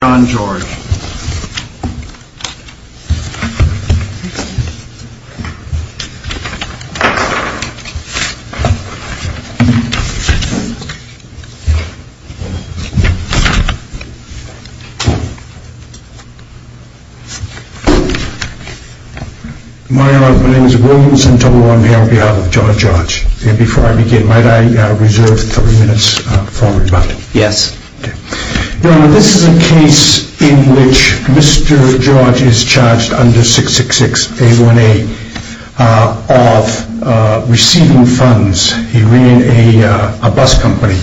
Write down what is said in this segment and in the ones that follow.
My name is Williams, and I'm here on behalf of John George. Before I begin, may I reserve three minutes for rebuttal? Yes. Your Honor, this is a case in which Mr. George is charged under 666-A1A of receiving funds. He ran a bus company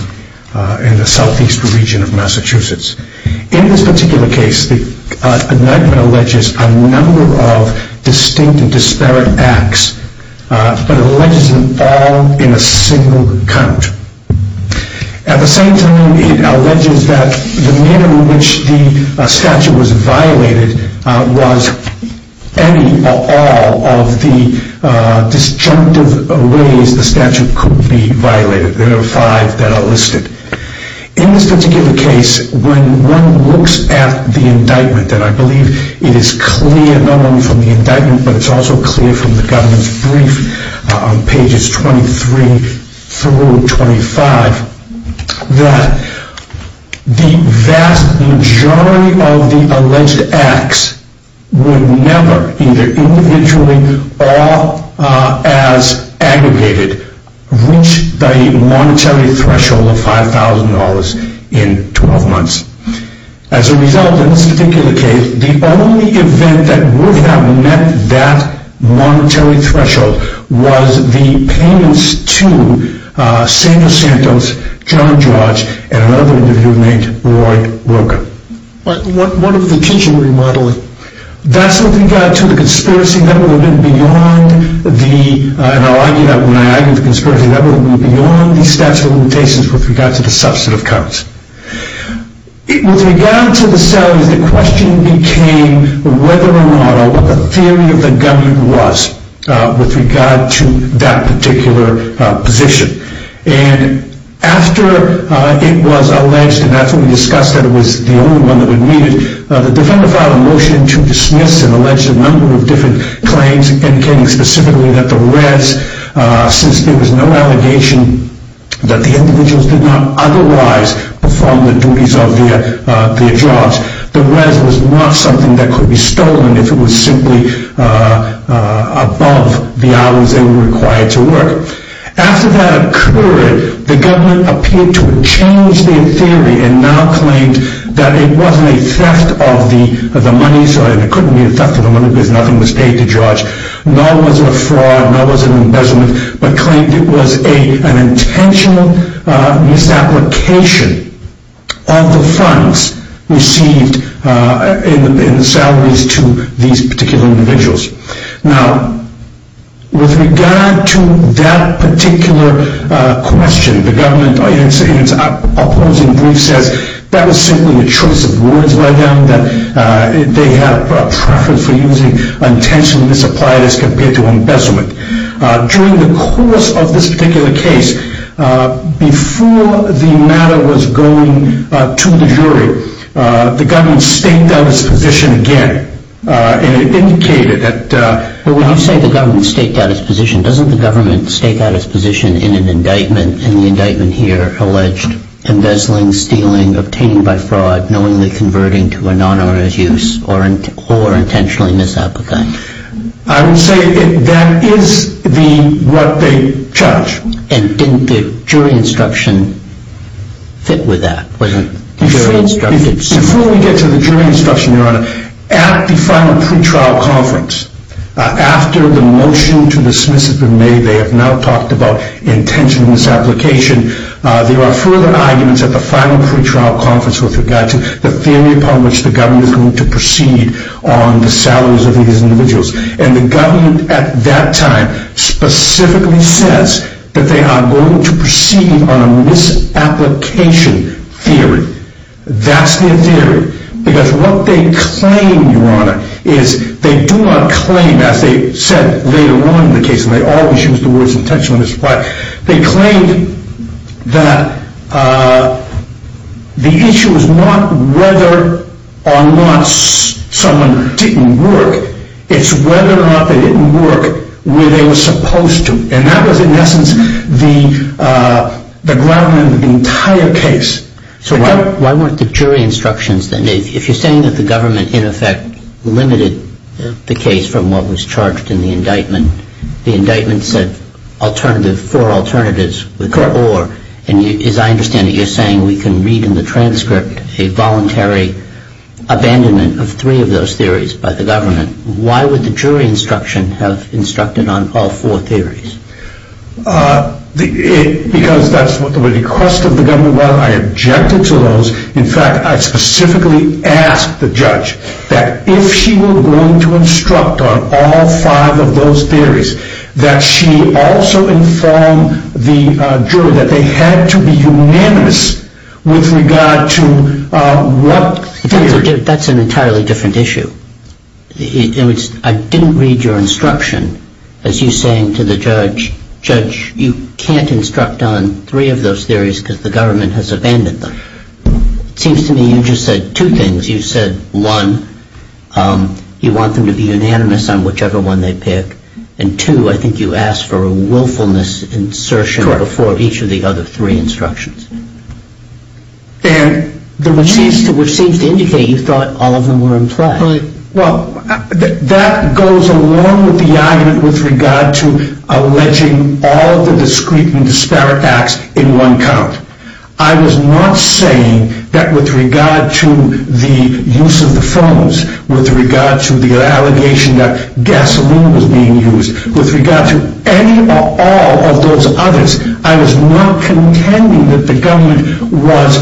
in the southeast region of Massachusetts. In this particular case, the indictment alleges a number of distinct and disparate acts, but alleges them all in a single count. At the same time, it alleges that the minimum which the statute was violated was any or all of the disjunctive ways the statute could be violated. There are five that are listed. In this particular case, when one looks at the indictment, and I believe it is clear not only from the indictment, but it's also clear from the government's brief on pages 23 through 25, that the vast majority of the alleged acts would never, either individually or as aggregated, reach the monetary threshold of $5,000 in 12 months. As a result, in this particular case, the only event that would have met that monetary threshold was the payments to Samuel Santos, John George, and another individual named Roy Wilker. What of the teaching remodeling? That's what we got to the conspiracy level. We went beyond the statute of limitations with regard to the substantive counts. With regard to the salaries, the question became whether or not, or what the theory of the government was with regard to that particular position. And after it was alleged, and that's when we discussed that it was the only one that would meet it, the defender filed a motion to dismiss and allege a number of different claims, indicating specifically that the res, since there was no allegation that the individuals did not otherwise perform the duties of their jobs, the res was not something that could be stolen if it was simply above the hours they were required to work. After that occurred, the government appeared to have changed their theory and now claimed that it wasn't a theft of the money, and it couldn't be a theft of the money because nothing was paid to George, nor was it a fraud, nor was it an embezzlement, but claimed it was an intentional misapplication of the funds received in the salaries to these particular individuals. Now, with regard to that particular question, the government in its opposing brief says that was simply a choice of words by them, that they had a preference for using intentionally misapplied as compared to embezzlement. During the course of this particular case, before the matter was going to the jury, the government staked out its position again, and it indicated that... But when you say the government staked out its position, doesn't the government stake out its position in an indictment, and the indictment here alleged embezzling, stealing, obtaining by fraud, knowingly converting to a non-owner's use, or intentionally misapplicating? I would say that is what they judge. And didn't the jury instruction fit with that? Before we get to the jury instruction, Your Honor, at the final pretrial conference, after the motion to dismiss has been made, they have now talked about intentional misapplication, there are further arguments at the final pretrial conference with regard to the theory upon which the government is going to proceed on the salaries of these individuals. And the government at that time specifically says that they are going to proceed on a misapplication theory. That's their theory. Because what they claim, Your Honor, is they do not claim, as they said later on in the case, and they always use the words intentional misapplication, they claimed that the issue is not whether or not someone didn't work, it's whether or not they didn't work where they were supposed to. And that was in essence the ground in the entire case. So why weren't the jury instructions then, if you're saying that the government in effect limited the case from what was charged in the indictment, the indictment said alternative, four alternatives with or, and as I understand it you're saying we can read in the transcript a voluntary abandonment of three of those theories by the government. Why would the jury instruction have instructed on all four theories? Because that's what the request of the government was, I objected to those. In fact, I specifically asked the judge that if she were going to instruct on all five of those theories, that she also inform the jury that they had to be unanimous with regard to what theory. That's an entirely different issue. I didn't read your instruction as you're saying to the judge, judge you can't instruct on three of those theories because the government has abandoned them. It seems to me you just said two things, you said one, you want them to be unanimous on whichever one they pick. And two, I think you asked for a willfulness insertion before each of the other three instructions. And which seems to indicate you thought all of them were implied. Well, that goes along with the argument with regard to alleging all the discreet and disparate acts in one count. I was not saying that with regard to the use of the phones, with regard to the allegation that gasoline was being used, with regard to any or all of those others, I was not contending that the government was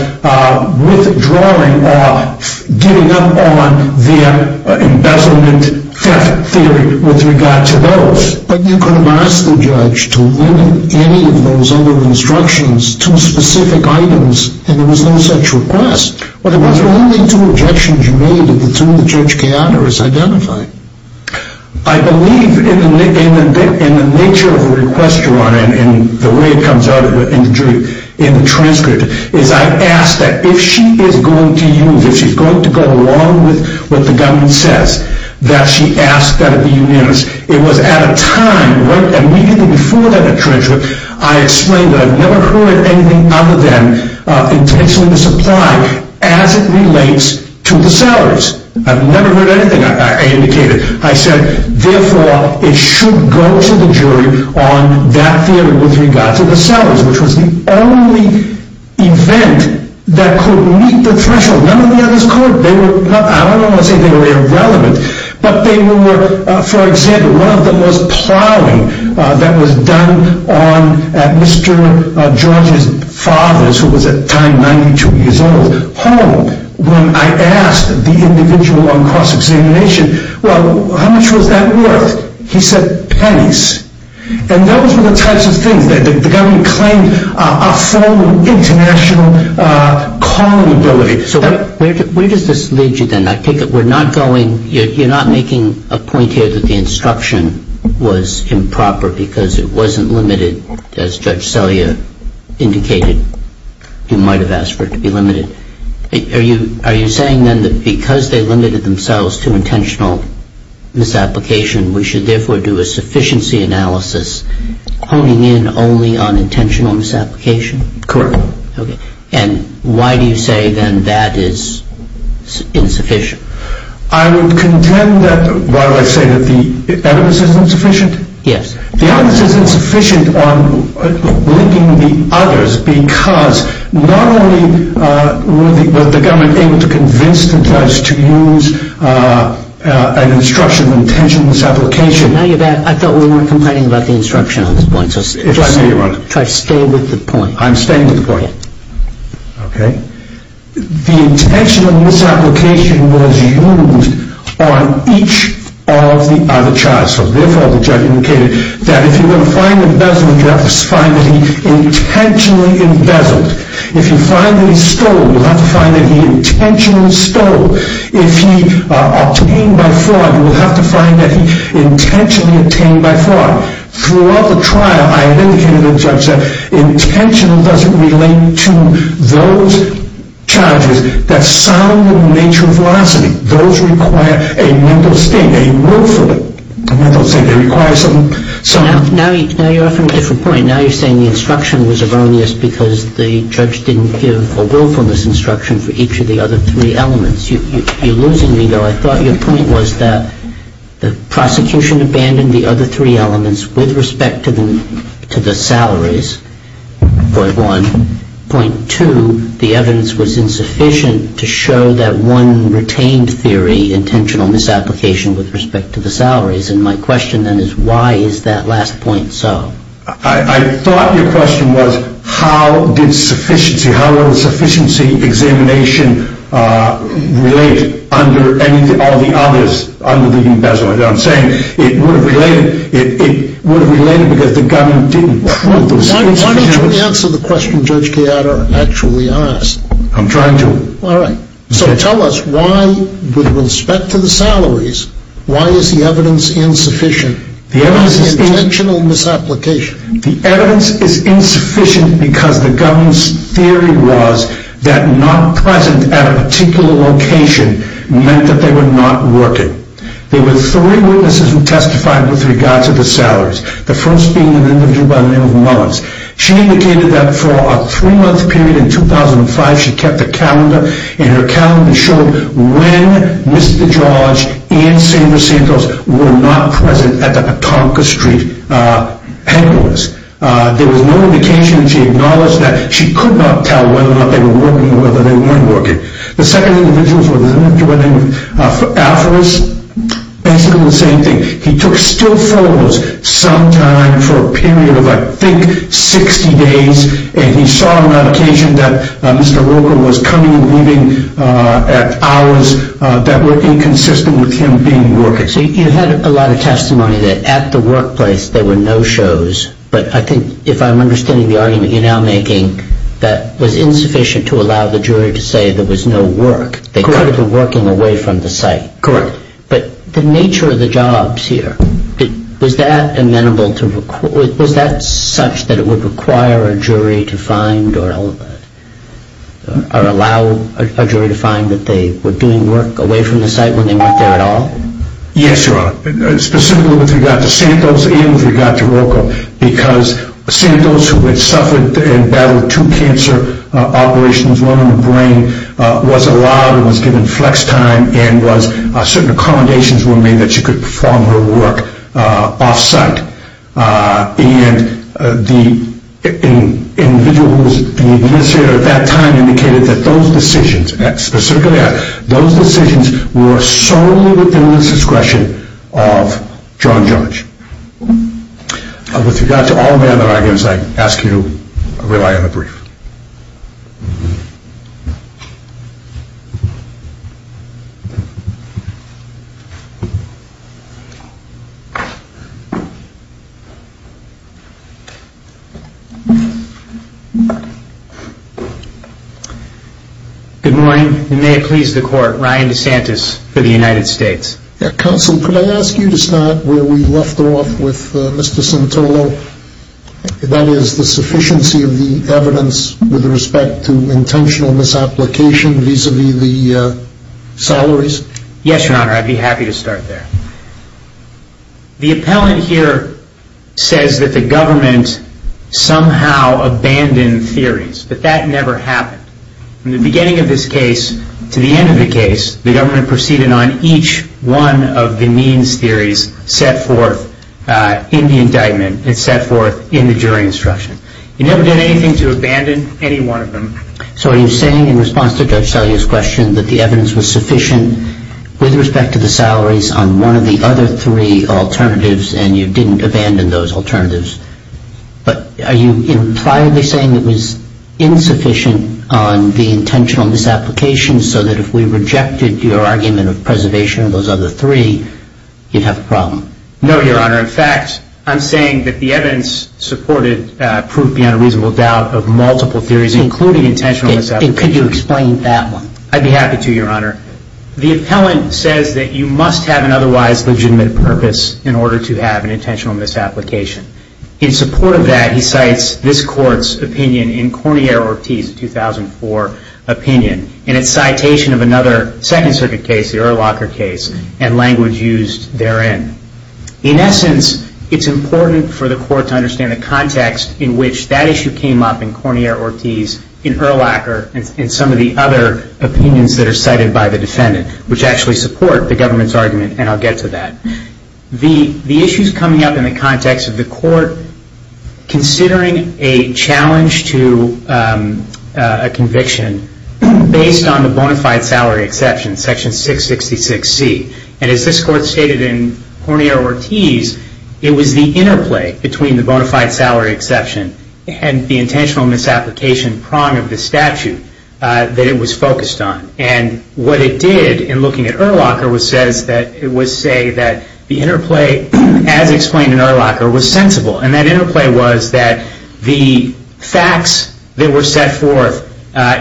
withdrawing or giving up on their embezzlement theft theory with regard to those. But you could have asked the judge to limit any of those other instructions to specific items and there was no such request. Well, there was only two objections you made and the two that Judge Keanu has identified. I believe in the nature of the request, Your Honor, and the way it comes out in the transcript, is I asked that if she is going to use, if she's going to go along with what the government says, that she ask that it be unanimous. It was at a time, right immediately before that transcript, I explained that I've never heard anything other than intentionally misapplying as it relates to the salaries. I've never heard anything I indicated. I said, therefore, it should go to the jury on that theory with regard to the salaries, which was the only event that could meet the threshold. None of the others could. They were, I don't want to say they were irrelevant, but they were, for example, one of them was plowing that was done on, at Mr. George's father's, who was at the time 92 years old, when I asked the individual on cross-examination, well, how much was that worth? He said pennies. And those were the types of things that the government claimed a form of international calling ability. So where does this lead you then? I take it we're not going, you're not making a point here that the instruction was improper because it wasn't limited, as Judge Selya indicated, you might have asked for it to be limited. Are you saying then that because they limited themselves to intentional misapplication, we should therefore do a sufficiency analysis honing in only on intentional misapplication? Correct. Okay. And why do you say then that is insufficient? I would contend that, why do I say that the evidence is insufficient? Yes. The evidence is insufficient on linking the others because not only was the government able to convince the judge to use an instruction of intentional misapplication. Now you're back. I thought we weren't complaining about the instruction on this point. If I may, Your Honor. Try to stay with the point. I'm staying with the point. Go ahead. Okay. The intentional misapplication was used on each of the other charges. Therefore, the judge indicated that if you're going to find embezzlement, you have to find that he intentionally embezzled. If you find that he stole, you'll have to find that he intentionally stole. If he obtained by fraud, you'll have to find that he intentionally obtained by fraud. Throughout the trial, I have indicated to the judge that intentional doesn't relate to those charges that sound in the nature of velocity. Those require a mental state, a willful mental state. They require some... Now you're offering a different point. Now you're saying the instruction was erroneous because the judge didn't give a willfulness instruction for each of the other three elements. You're losing me, though. I thought your point was that the prosecution abandoned the other three elements with respect to the salaries, point one. Point two, the evidence was insufficient to show that one retained theory, intentional misapplication with respect to the salaries. And my question then is why is that last point so? I thought your question was how did sufficiency, how will sufficiency examination relate under all the others, under the embezzlement. You know what I'm saying? It would have related because the gun didn't prove those... Why don't you answer the question Judge Gallardo actually asked? I'm trying to. All right. So tell us why, with respect to the salaries, why is the evidence insufficient? The evidence is... Intentional misapplication. The evidence is insufficient because the gun's theory was that not present at a particular location meant that they were not working. There were three witnesses who testified with regards to the salaries, the first being an individual by the name of Mullins. She indicated that for a three-month period in 2005, she kept a calendar and her calendar showed when Mr. George and Sandra Santos were not present at the Petonka Street hangar list. There was no indication that she acknowledged that. She could not tell whether or not they were working or whether they weren't working. The second individual was an individual by the name of Alpharus. Basically the same thing. He took still photos sometime for a period of, I think, 60 days, and he saw on occasion that Mr. Roker was coming and leaving at hours that were inconsistent with him being working. So you had a lot of testimony that at the workplace there were no shows, but I think if I'm understanding the argument you're now making, that was insufficient to allow the jury to say there was no work. They could have been working away from the site. Correct. But the nature of the jobs here, was that amenable to, was that such that it would require a jury to find or allow a jury to find that they were doing work away from the site when they weren't there at all? Yes, Your Honor. Specifically with regard to Santos and with regard to Roker, because Santos, who had suffered and battled two cancer operations, one in the brain, was allowed and was given flex time and certain accommodations were made that she could perform her work off-site. And the individual who was the administrator at that time indicated that those decisions, specifically those decisions were solely within the discretion of John Judge. With regard to all the other arguments, I ask you to rely on the brief. Good morning, and may it please the Court, Ryan DeSantis for the United States. Counsel, could I ask you to start where we left off with Mr. Santolo, that is the sufficiency of the evidence with respect to intentional misapplication vis-à-vis the salaries? Yes, Your Honor, I'd be happy to start there. The appellant here says that the government somehow abandoned theories, but that never happened. From the beginning of this case to the end of the case, the government proceeded on each one of the means theories set forth in the indictment and set forth in the jury instruction. It never did anything to abandon any one of them. So are you saying in response to Judge Salia's question that the evidence was sufficient with respect to the salaries on one of the other three alternatives and you didn't abandon those alternatives? But are you impliedly saying it was insufficient on the intentional misapplication so that if we rejected your argument of preservation of those other three, you'd have a problem? No, Your Honor. In fact, I'm saying that the evidence supported proof beyond a reasonable doubt of multiple theories, including intentional misapplication. Could you explain that one? I'd be happy to, Your Honor. The appellant says that you must have an otherwise legitimate purpose in order to have an intentional misapplication. In support of that, he cites this Court's opinion in Cornier-Ortiz's 2004 opinion, in its citation of another Second Circuit case, the Urlacher case, and language used therein. In essence, it's important for the Court to understand the context in which that issue came up in Cornier-Ortiz, in Urlacher, and some of the other opinions that are cited by the defendant, which actually support the government's argument, and I'll get to that. The issue's coming up in the context of the Court considering a challenge to a conviction based on the bona fide salary exception, Section 666C. And as this Court stated in Cornier-Ortiz, it was the interplay between the bona fide salary exception and the intentional misapplication prong of the statute that it was focused on. And what it did in looking at Urlacher was say that the interplay, as explained in Urlacher, was sensible. And that interplay was that the facts that were set forth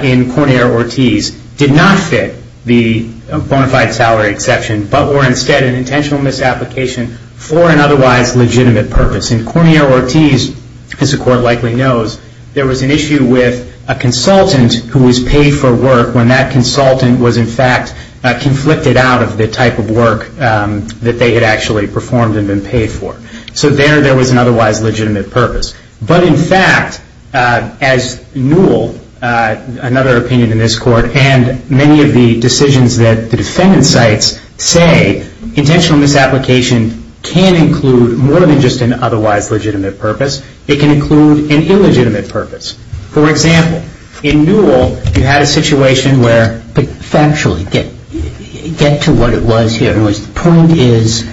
in Cornier-Ortiz did not fit the bona fide salary exception, but were instead an intentional misapplication for an otherwise legitimate purpose. In Cornier-Ortiz, as the Court likely knows, there was an issue with a consultant who was paid for work when that consultant was in fact conflicted out of the type of work that they had actually performed and been paid for. So there, there was an otherwise legitimate purpose. But in fact, as Newell, another opinion in this Court, and many of the decisions that the defendant cites, say intentional misapplication can include more than just an otherwise legitimate purpose. It can include an illegitimate purpose. For example, in Newell, you had a situation where... But factually, get to what it was here. The point is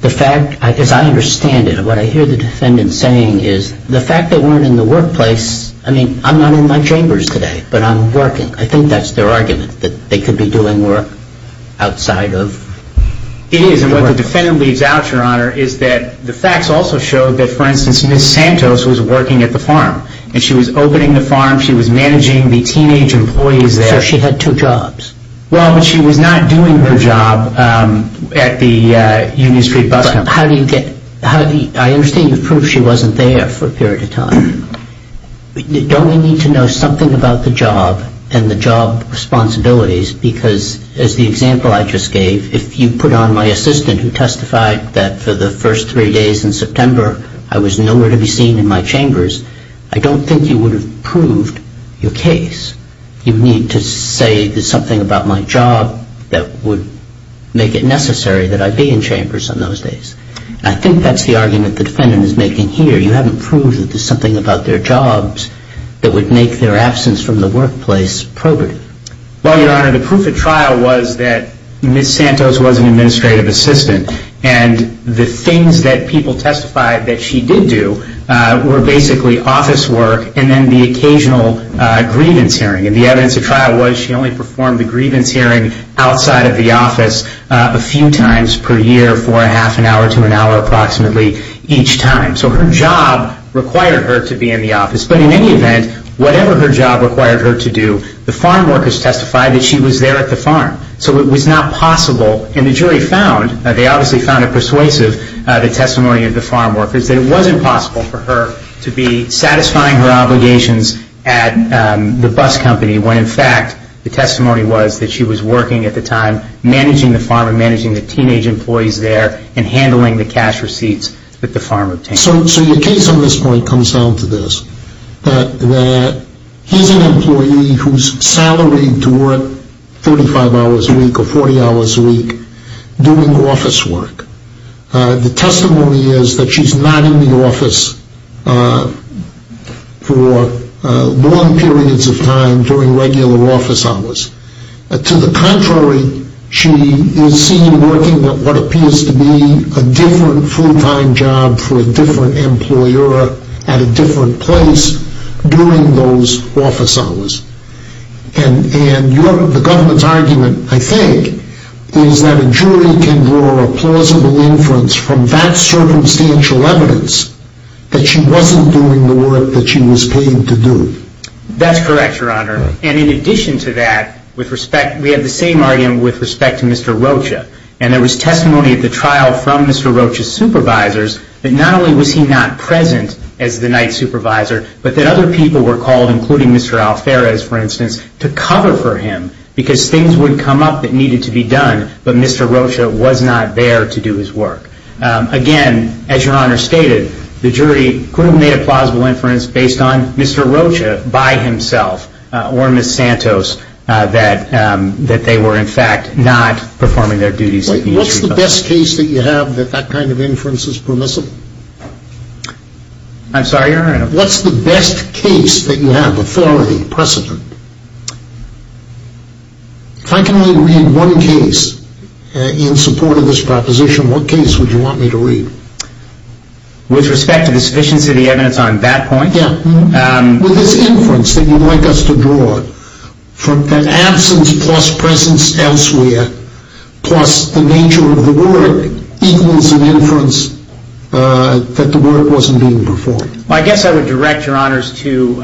the fact, as I understand it, what I hear the defendant saying is the fact they weren't in the workplace, I mean, I'm not in my chambers today, but I'm working. I think that's their argument, that they could be doing work outside of... It is. And what the defendant leaves out, Your Honor, is that the facts also show that, for instance, Ms. Santos was working at the farm. And she was opening the farm. She was managing the teenage employees there. So she had two jobs. Well, but she was not doing her job at the Union Street Bus Company. But how do you get... I understand you've proved she wasn't there for a period of time. Don't we need to know something about the job and the job responsibilities? Because, as the example I just gave, if you put on my assistant, who testified that for the first three days in September I was nowhere to be seen in my chambers, I don't think you would have proved your case. You need to say there's something about my job that would make it necessary that I be in chambers in those days. And I think that's the argument the defendant is making here. You haven't proved that there's something about their jobs that would make their absence from the workplace probative. Well, Your Honor, the proof at trial was that Ms. Santos was an administrative assistant. And the things that people testified that she did do were basically office work and then the occasional grievance hearing. And the evidence at trial was she only performed the grievance hearing outside of the office a few times per year for a half an hour to an hour approximately each time. So her job required her to be in the office. But in any event, whatever her job required her to do, the farm workers testified that she was there at the farm. So it was not possible. And the jury found, they obviously found it persuasive, the testimony of the farm workers, that it wasn't possible for her to be satisfying her obligations at the bus company when, in fact, the testimony was that she was working at the time managing the farm and managing the teenage employees there and handling the cash receipts that the farm obtained. So your case on this point comes down to this, that here's an employee who's salaried to work 35 hours a week or 40 hours a week doing office work. The testimony is that she's not in the office for long periods of time during regular office hours. To the contrary, she is seen working at what appears to be a different full-time job for a different employer at a different place during those office hours. And the government's argument, I think, is that a jury can draw a plausible inference from that circumstantial evidence that she wasn't doing the work that she was paid to do. That's correct, Your Honor. And in addition to that, we have the same argument with respect to Mr. Rocha. And there was testimony at the trial from Mr. Rocha's supervisors that not only was he not present as the night supervisor, but that other people were called, including Mr. Alferez, for instance, to cover for him because things would come up that needed to be done, but Mr. Rocha was not there to do his work. Again, as Your Honor stated, the jury could have made a plausible inference based on Mr. Rocha by himself or Ms. Santos that they were, in fact, not performing their duties. What's the best case that you have that that kind of inference is permissible? I'm sorry, Your Honor? What's the best case that you have, authority, precedent? If I can only read one case in support of this proposition, what case would you want me to read? With respect to the sufficiency of the evidence on that point? Yeah. With this inference that you'd like us to draw, from that absence plus presence elsewhere plus the nature of the word equals an inference that the word wasn't being performed. Well, I guess I would direct Your Honors to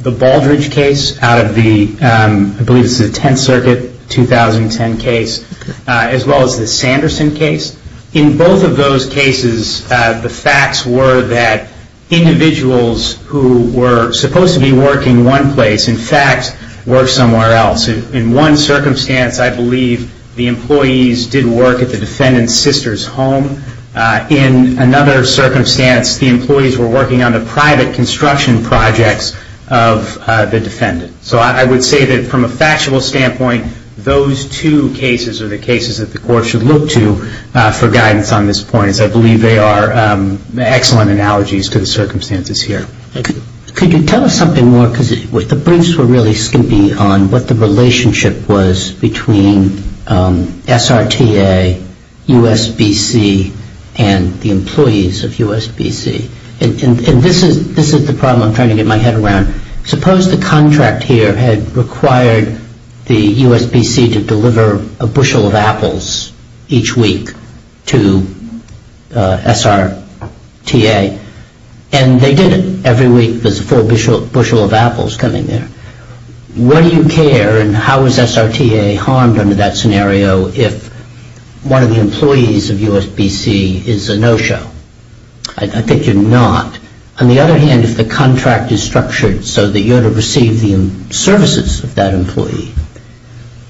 the Baldrige case out of the, I believe it's the 10th Circuit, 2010 case, as well as the Sanderson case. In both of those cases, the facts were that individuals who were supposed to be working one place, in fact, worked somewhere else. In one circumstance, I believe the employees did work at the defendant's sister's home. In another circumstance, the employees were working on the private construction projects of the defendant. So I would say that from a factual standpoint, those two cases are the cases that the Court should look to for guidance on this point. I believe they are excellent analogies to the circumstances here. Thank you. Could you tell us something more? Because the briefs were really skimpy on what the relationship was between SRTA, USBC, and the employees of USBC. And this is the problem I'm trying to get my head around. Suppose the contract here had required the USBC to deliver a bushel of apples each week to SRTA. And they did it. Every week, there's a full bushel of apples coming there. Where do you care and how is SRTA harmed under that scenario if one of the employees of USBC is a no-show? I think you're not. On the other hand, if the contract is structured so that you're to receive the services of that employee,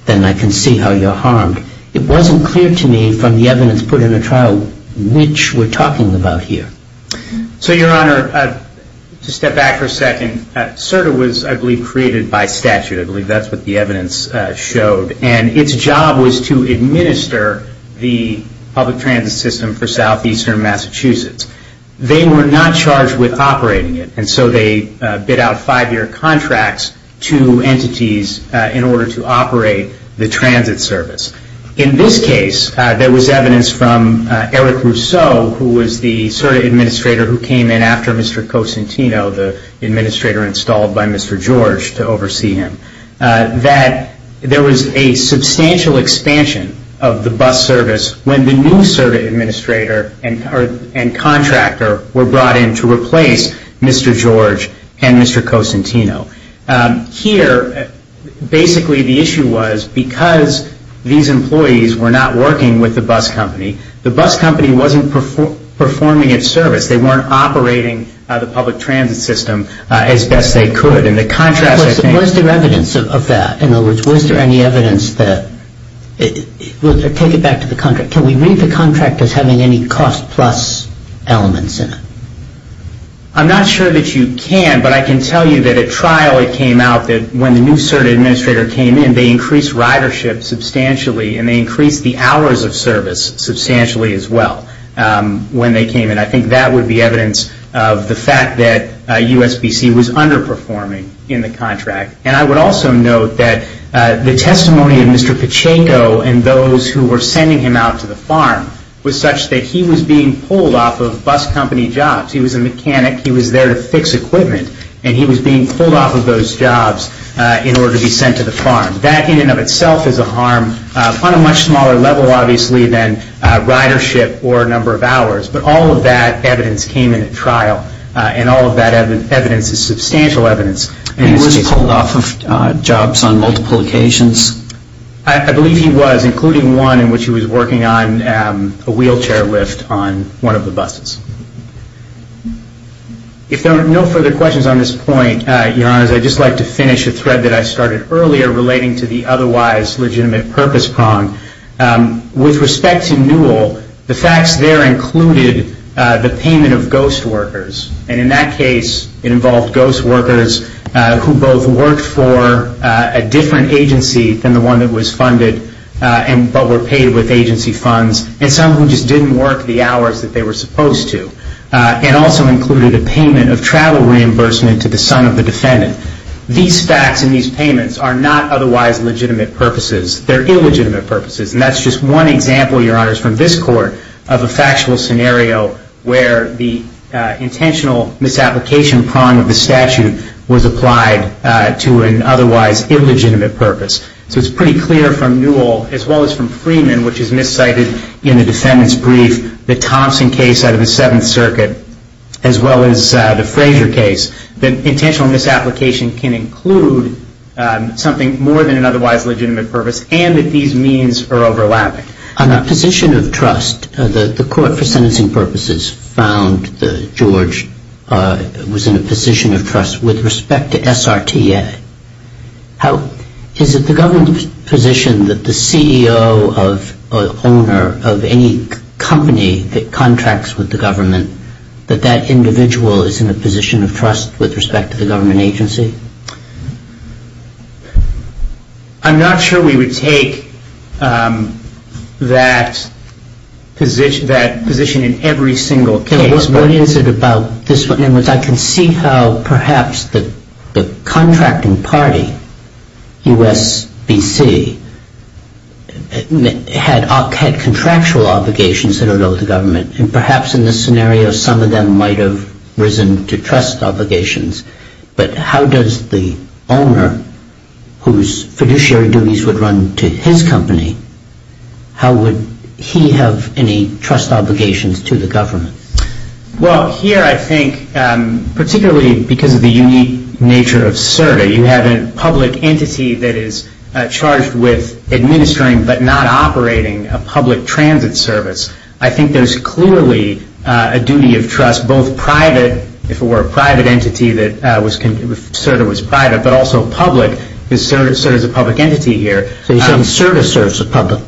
then I can see how you're harmed. It wasn't clear to me from the evidence put in the trial which we're talking about here. So, Your Honor, to step back for a second, SRTA was, I believe, created by statute. I believe that's what the evidence showed. And its job was to administer the public transit system for southeastern Massachusetts. They were not charged with operating it. And so they bid out five-year contracts to entities in order to operate the transit service. In this case, there was evidence from Eric Rousseau, who was the SRTA administrator who came in after Mr. Cosentino, the administrator installed by Mr. George to oversee him, that there was a substantial expansion of the bus service when the new SRTA administrator and contractor were brought in to replace Mr. George and Mr. Cosentino. Here, basically the issue was because these employees were not working with the bus company, the bus company wasn't performing its service. They weren't operating the public transit system as best they could. Was there evidence of that? In other words, was there any evidence that, take it back to the contract, can we read the contract as having any cost plus elements in it? I'm not sure that you can, but I can tell you that at trial it came out that when the new SRTA administrator came in, they increased ridership substantially and they increased the hours of service substantially as well when they came in. I think that would be evidence of the fact that USBC was underperforming in the contract. And I would also note that the testimony of Mr. Pacheco and those who were sending him out to the farm was such that he was being pulled off of bus company jobs. He was a mechanic. He was there to fix equipment, and he was being pulled off of those jobs in order to be sent to the farm. That in and of itself is a harm on a much smaller level, obviously, than ridership or number of hours. But all of that evidence came in at trial, and all of that evidence is substantial evidence. And he was pulled off of jobs on multiple occasions? I believe he was, including one in which he was working on a wheelchair lift on one of the buses. If there are no further questions on this point, Your Honors, I'd just like to finish a thread that I started earlier relating to the otherwise legitimate purpose prong. With respect to Newell, the facts there included the payment of ghost workers. And in that case, it involved ghost workers who both worked for a different agency than the one that was funded but were paid with agency funds, and some of them just didn't work the hours that they were supposed to. It also included a payment of travel reimbursement to the son of the defendant. These facts and these payments are not otherwise legitimate purposes. They're illegitimate purposes. And that's just one example, Your Honors, from this court of a factual scenario where the intentional misapplication prong of the statute was applied to an otherwise illegitimate purpose. So it's pretty clear from Newell, as well as from Freeman, which is miscited in the defendant's brief, the Thompson case out of the Seventh Circuit, as well as the Frazier case, that intentional misapplication can include something more than an otherwise legitimate purpose and that these means are overlapping. On a position of trust, the court for sentencing purposes found that George was in a position of trust with respect to SRTA. Is it the government's position that the CEO or owner of any company that contracts with the government, that that individual is in a position of trust with respect to the government agency? I'm not sure we would take that position in every single case. What is it about this one? I can see how perhaps the contracting party, USBC, had contractual obligations that are owed to government. And perhaps in this scenario, some of them might have risen to trust obligations. But how does the owner, whose fiduciary duties would run to his company, how would he have any trust obligations to the government? Well, here I think, particularly because of the unique nature of SRTA, you have a public entity that is charged with administering but not operating a public transit service. I think there's clearly a duty of trust, both private, if it were a private entity that SRTA was private, but also public, because SRTA is a public entity here. So you're saying SRTA serves the public,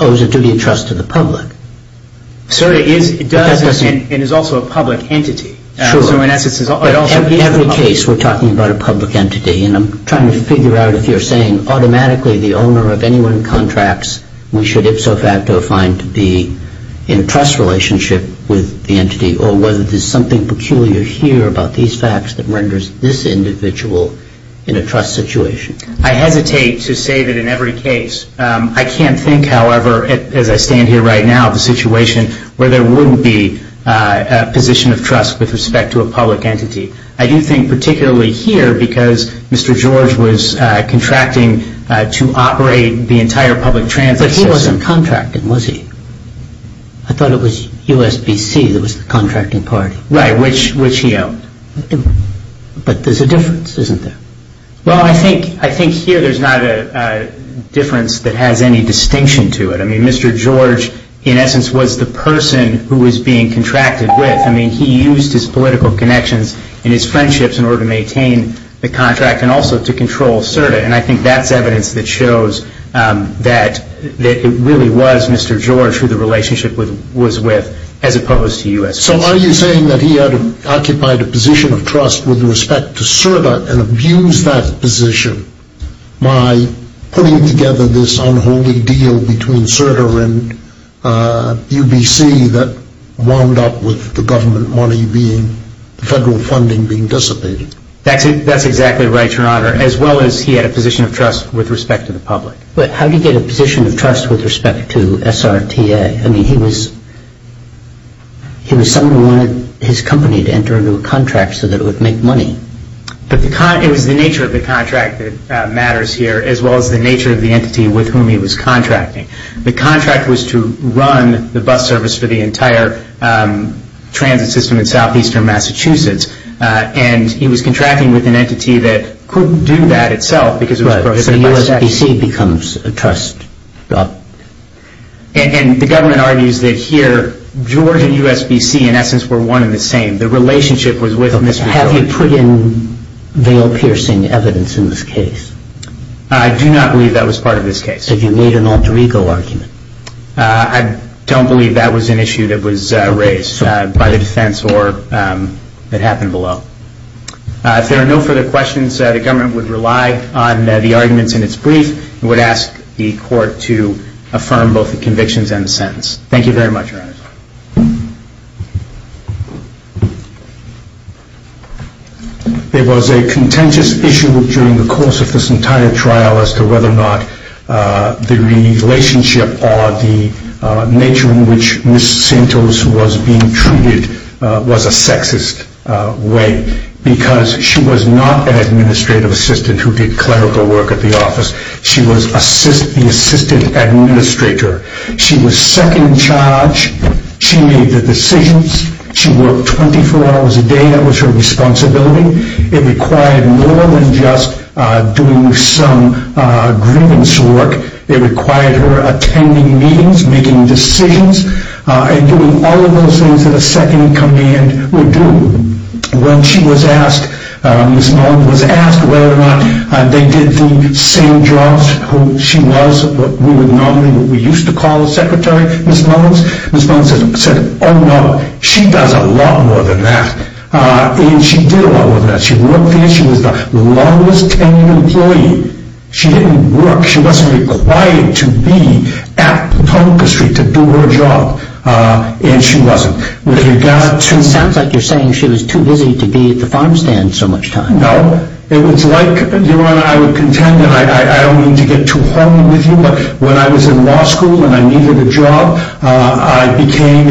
owes a duty of trust to the public? SRTA does and is also a public entity. So in essence, it's also a public entity. In every case, we're talking about a public entity. And I'm trying to figure out if you're saying automatically the owner of any one of the contracts we should ipso facto find to be in a trust relationship with the entity or whether there's something peculiar here about these facts that renders this individual in a trust situation. I hesitate to say that in every case. I can't think, however, as I stand here right now, of a situation where there wouldn't be a position of trust with respect to a public entity. I do think particularly here because Mr. George was contracting to operate the entire public transit system. But he wasn't contracting, was he? I thought it was USBC that was the contracting party. Right, which he owned. But there's a difference, isn't there? Well, I think here there's not a difference that has any distinction to it. I mean, Mr. George, in essence, was the person who was being contracted with. I mean, he used his political connections and his friendships in order to maintain the contract and also to control CERTA. And I think that's evidence that shows that it really was Mr. George who the relationship was with as opposed to USBC. So are you saying that he had occupied a position of trust with respect to CERTA and abused that position by putting together this unholy deal between CERTA and UBC that wound up with the government money being, federal funding being dissipated? That's exactly right, Your Honor, as well as he had a position of trust with respect to the public. But how did he get a position of trust with respect to SRTA? I mean, he was someone who wanted his company to enter into a contract so that it would make money. But it was the nature of the contract that matters here as well as the nature of the entity with whom he was contracting. The contract was to run the bus service for the entire transit system in southeastern Massachusetts. And he was contracting with an entity that couldn't do that itself because it was prohibited by the statute. Right, so USBC becomes a trust. And the government argues that here, George and USBC, in essence, were one and the same. The relationship was with Mr. George. Have you put in veil-piercing evidence in this case? I do not believe that was part of this case. Have you made an alter ego argument? I don't believe that was an issue that was raised by the defense or that happened below. If there are no further questions, the government would rely on the arguments in its brief and would ask the court to affirm both the convictions and the sentence. Thank you very much, Your Honor. There was a contentious issue during the course of this entire trial as to whether or not the relationship or the nature in which Ms. Santos was being treated was a sexist way because she was not an administrative assistant who did clerical work at the office. She was the assistant administrator. She was second in charge. She made the decisions. She worked 24 hours a day. That was her responsibility. It required more than just doing some grievance work. It required her attending meetings, making decisions, and doing all of those things that a second in command would do. When Ms. Mullins was asked whether or not they did the same jobs she was, what we used to call a secretary, Ms. Mullins, Ms. Mullins said, oh no, she does a lot more than that. And she did a lot more than that. She worked there. She was the longest tenured employee. She didn't work. She wasn't required to be at Potomac Street to do her job. And she wasn't. It sounds like you're saying she was too busy to be at the farm stand so much time. No. It was like, I would contend, and I don't mean to get too horny with you, but when I was in law school and I needed a job, I became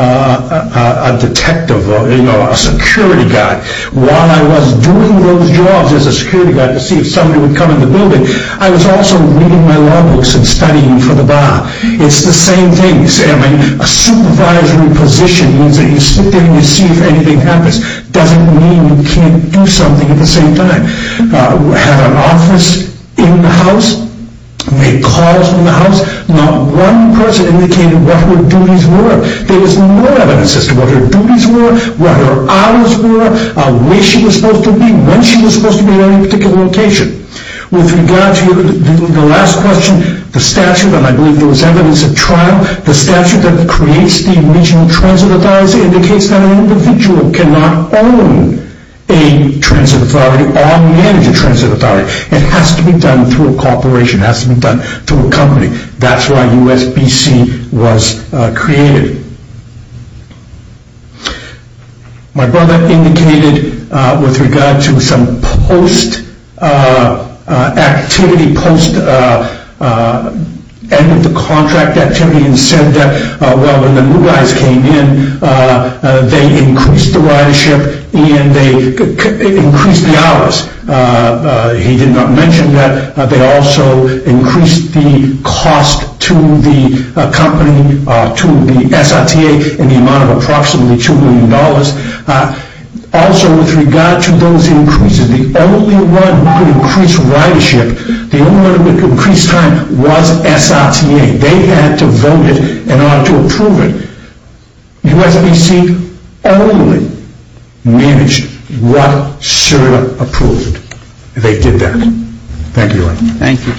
a detective, a security guy. While I was doing those jobs as a security guy to see if somebody would come in the building, I was also reading my law books and studying for the bar. It's the same thing. A supervisory position means that you sit there and you see if anything happens. It doesn't mean you can't do something at the same time. I had an office in the house. They called from the house. Not one person indicated what her duties were. There was no evidence as to what her duties were, what her hours were, where she was supposed to be, when she was supposed to be at any particular location. With regard to the last question, the statute, and I believe there was evidence at trial, the statute that creates the original transit authority indicates that an individual cannot own a transit authority or manage a transit authority. It has to be done through a corporation. It has to be done through a company. That's why USBC was created. My brother indicated with regard to some post activity, post end of the contract activity and said that, well, when the new guys came in, they increased the ridership and they increased the hours. He did not mention that they also increased the cost to the company, to the SRTA, in the amount of approximately $2 million. Also, with regard to those increases, the only one who could increase ridership, the only one who could increase time was SRTA. They had to vote it in order to approve it. USBC only managed what SRTA approved. They did that. Thank you. Thank you.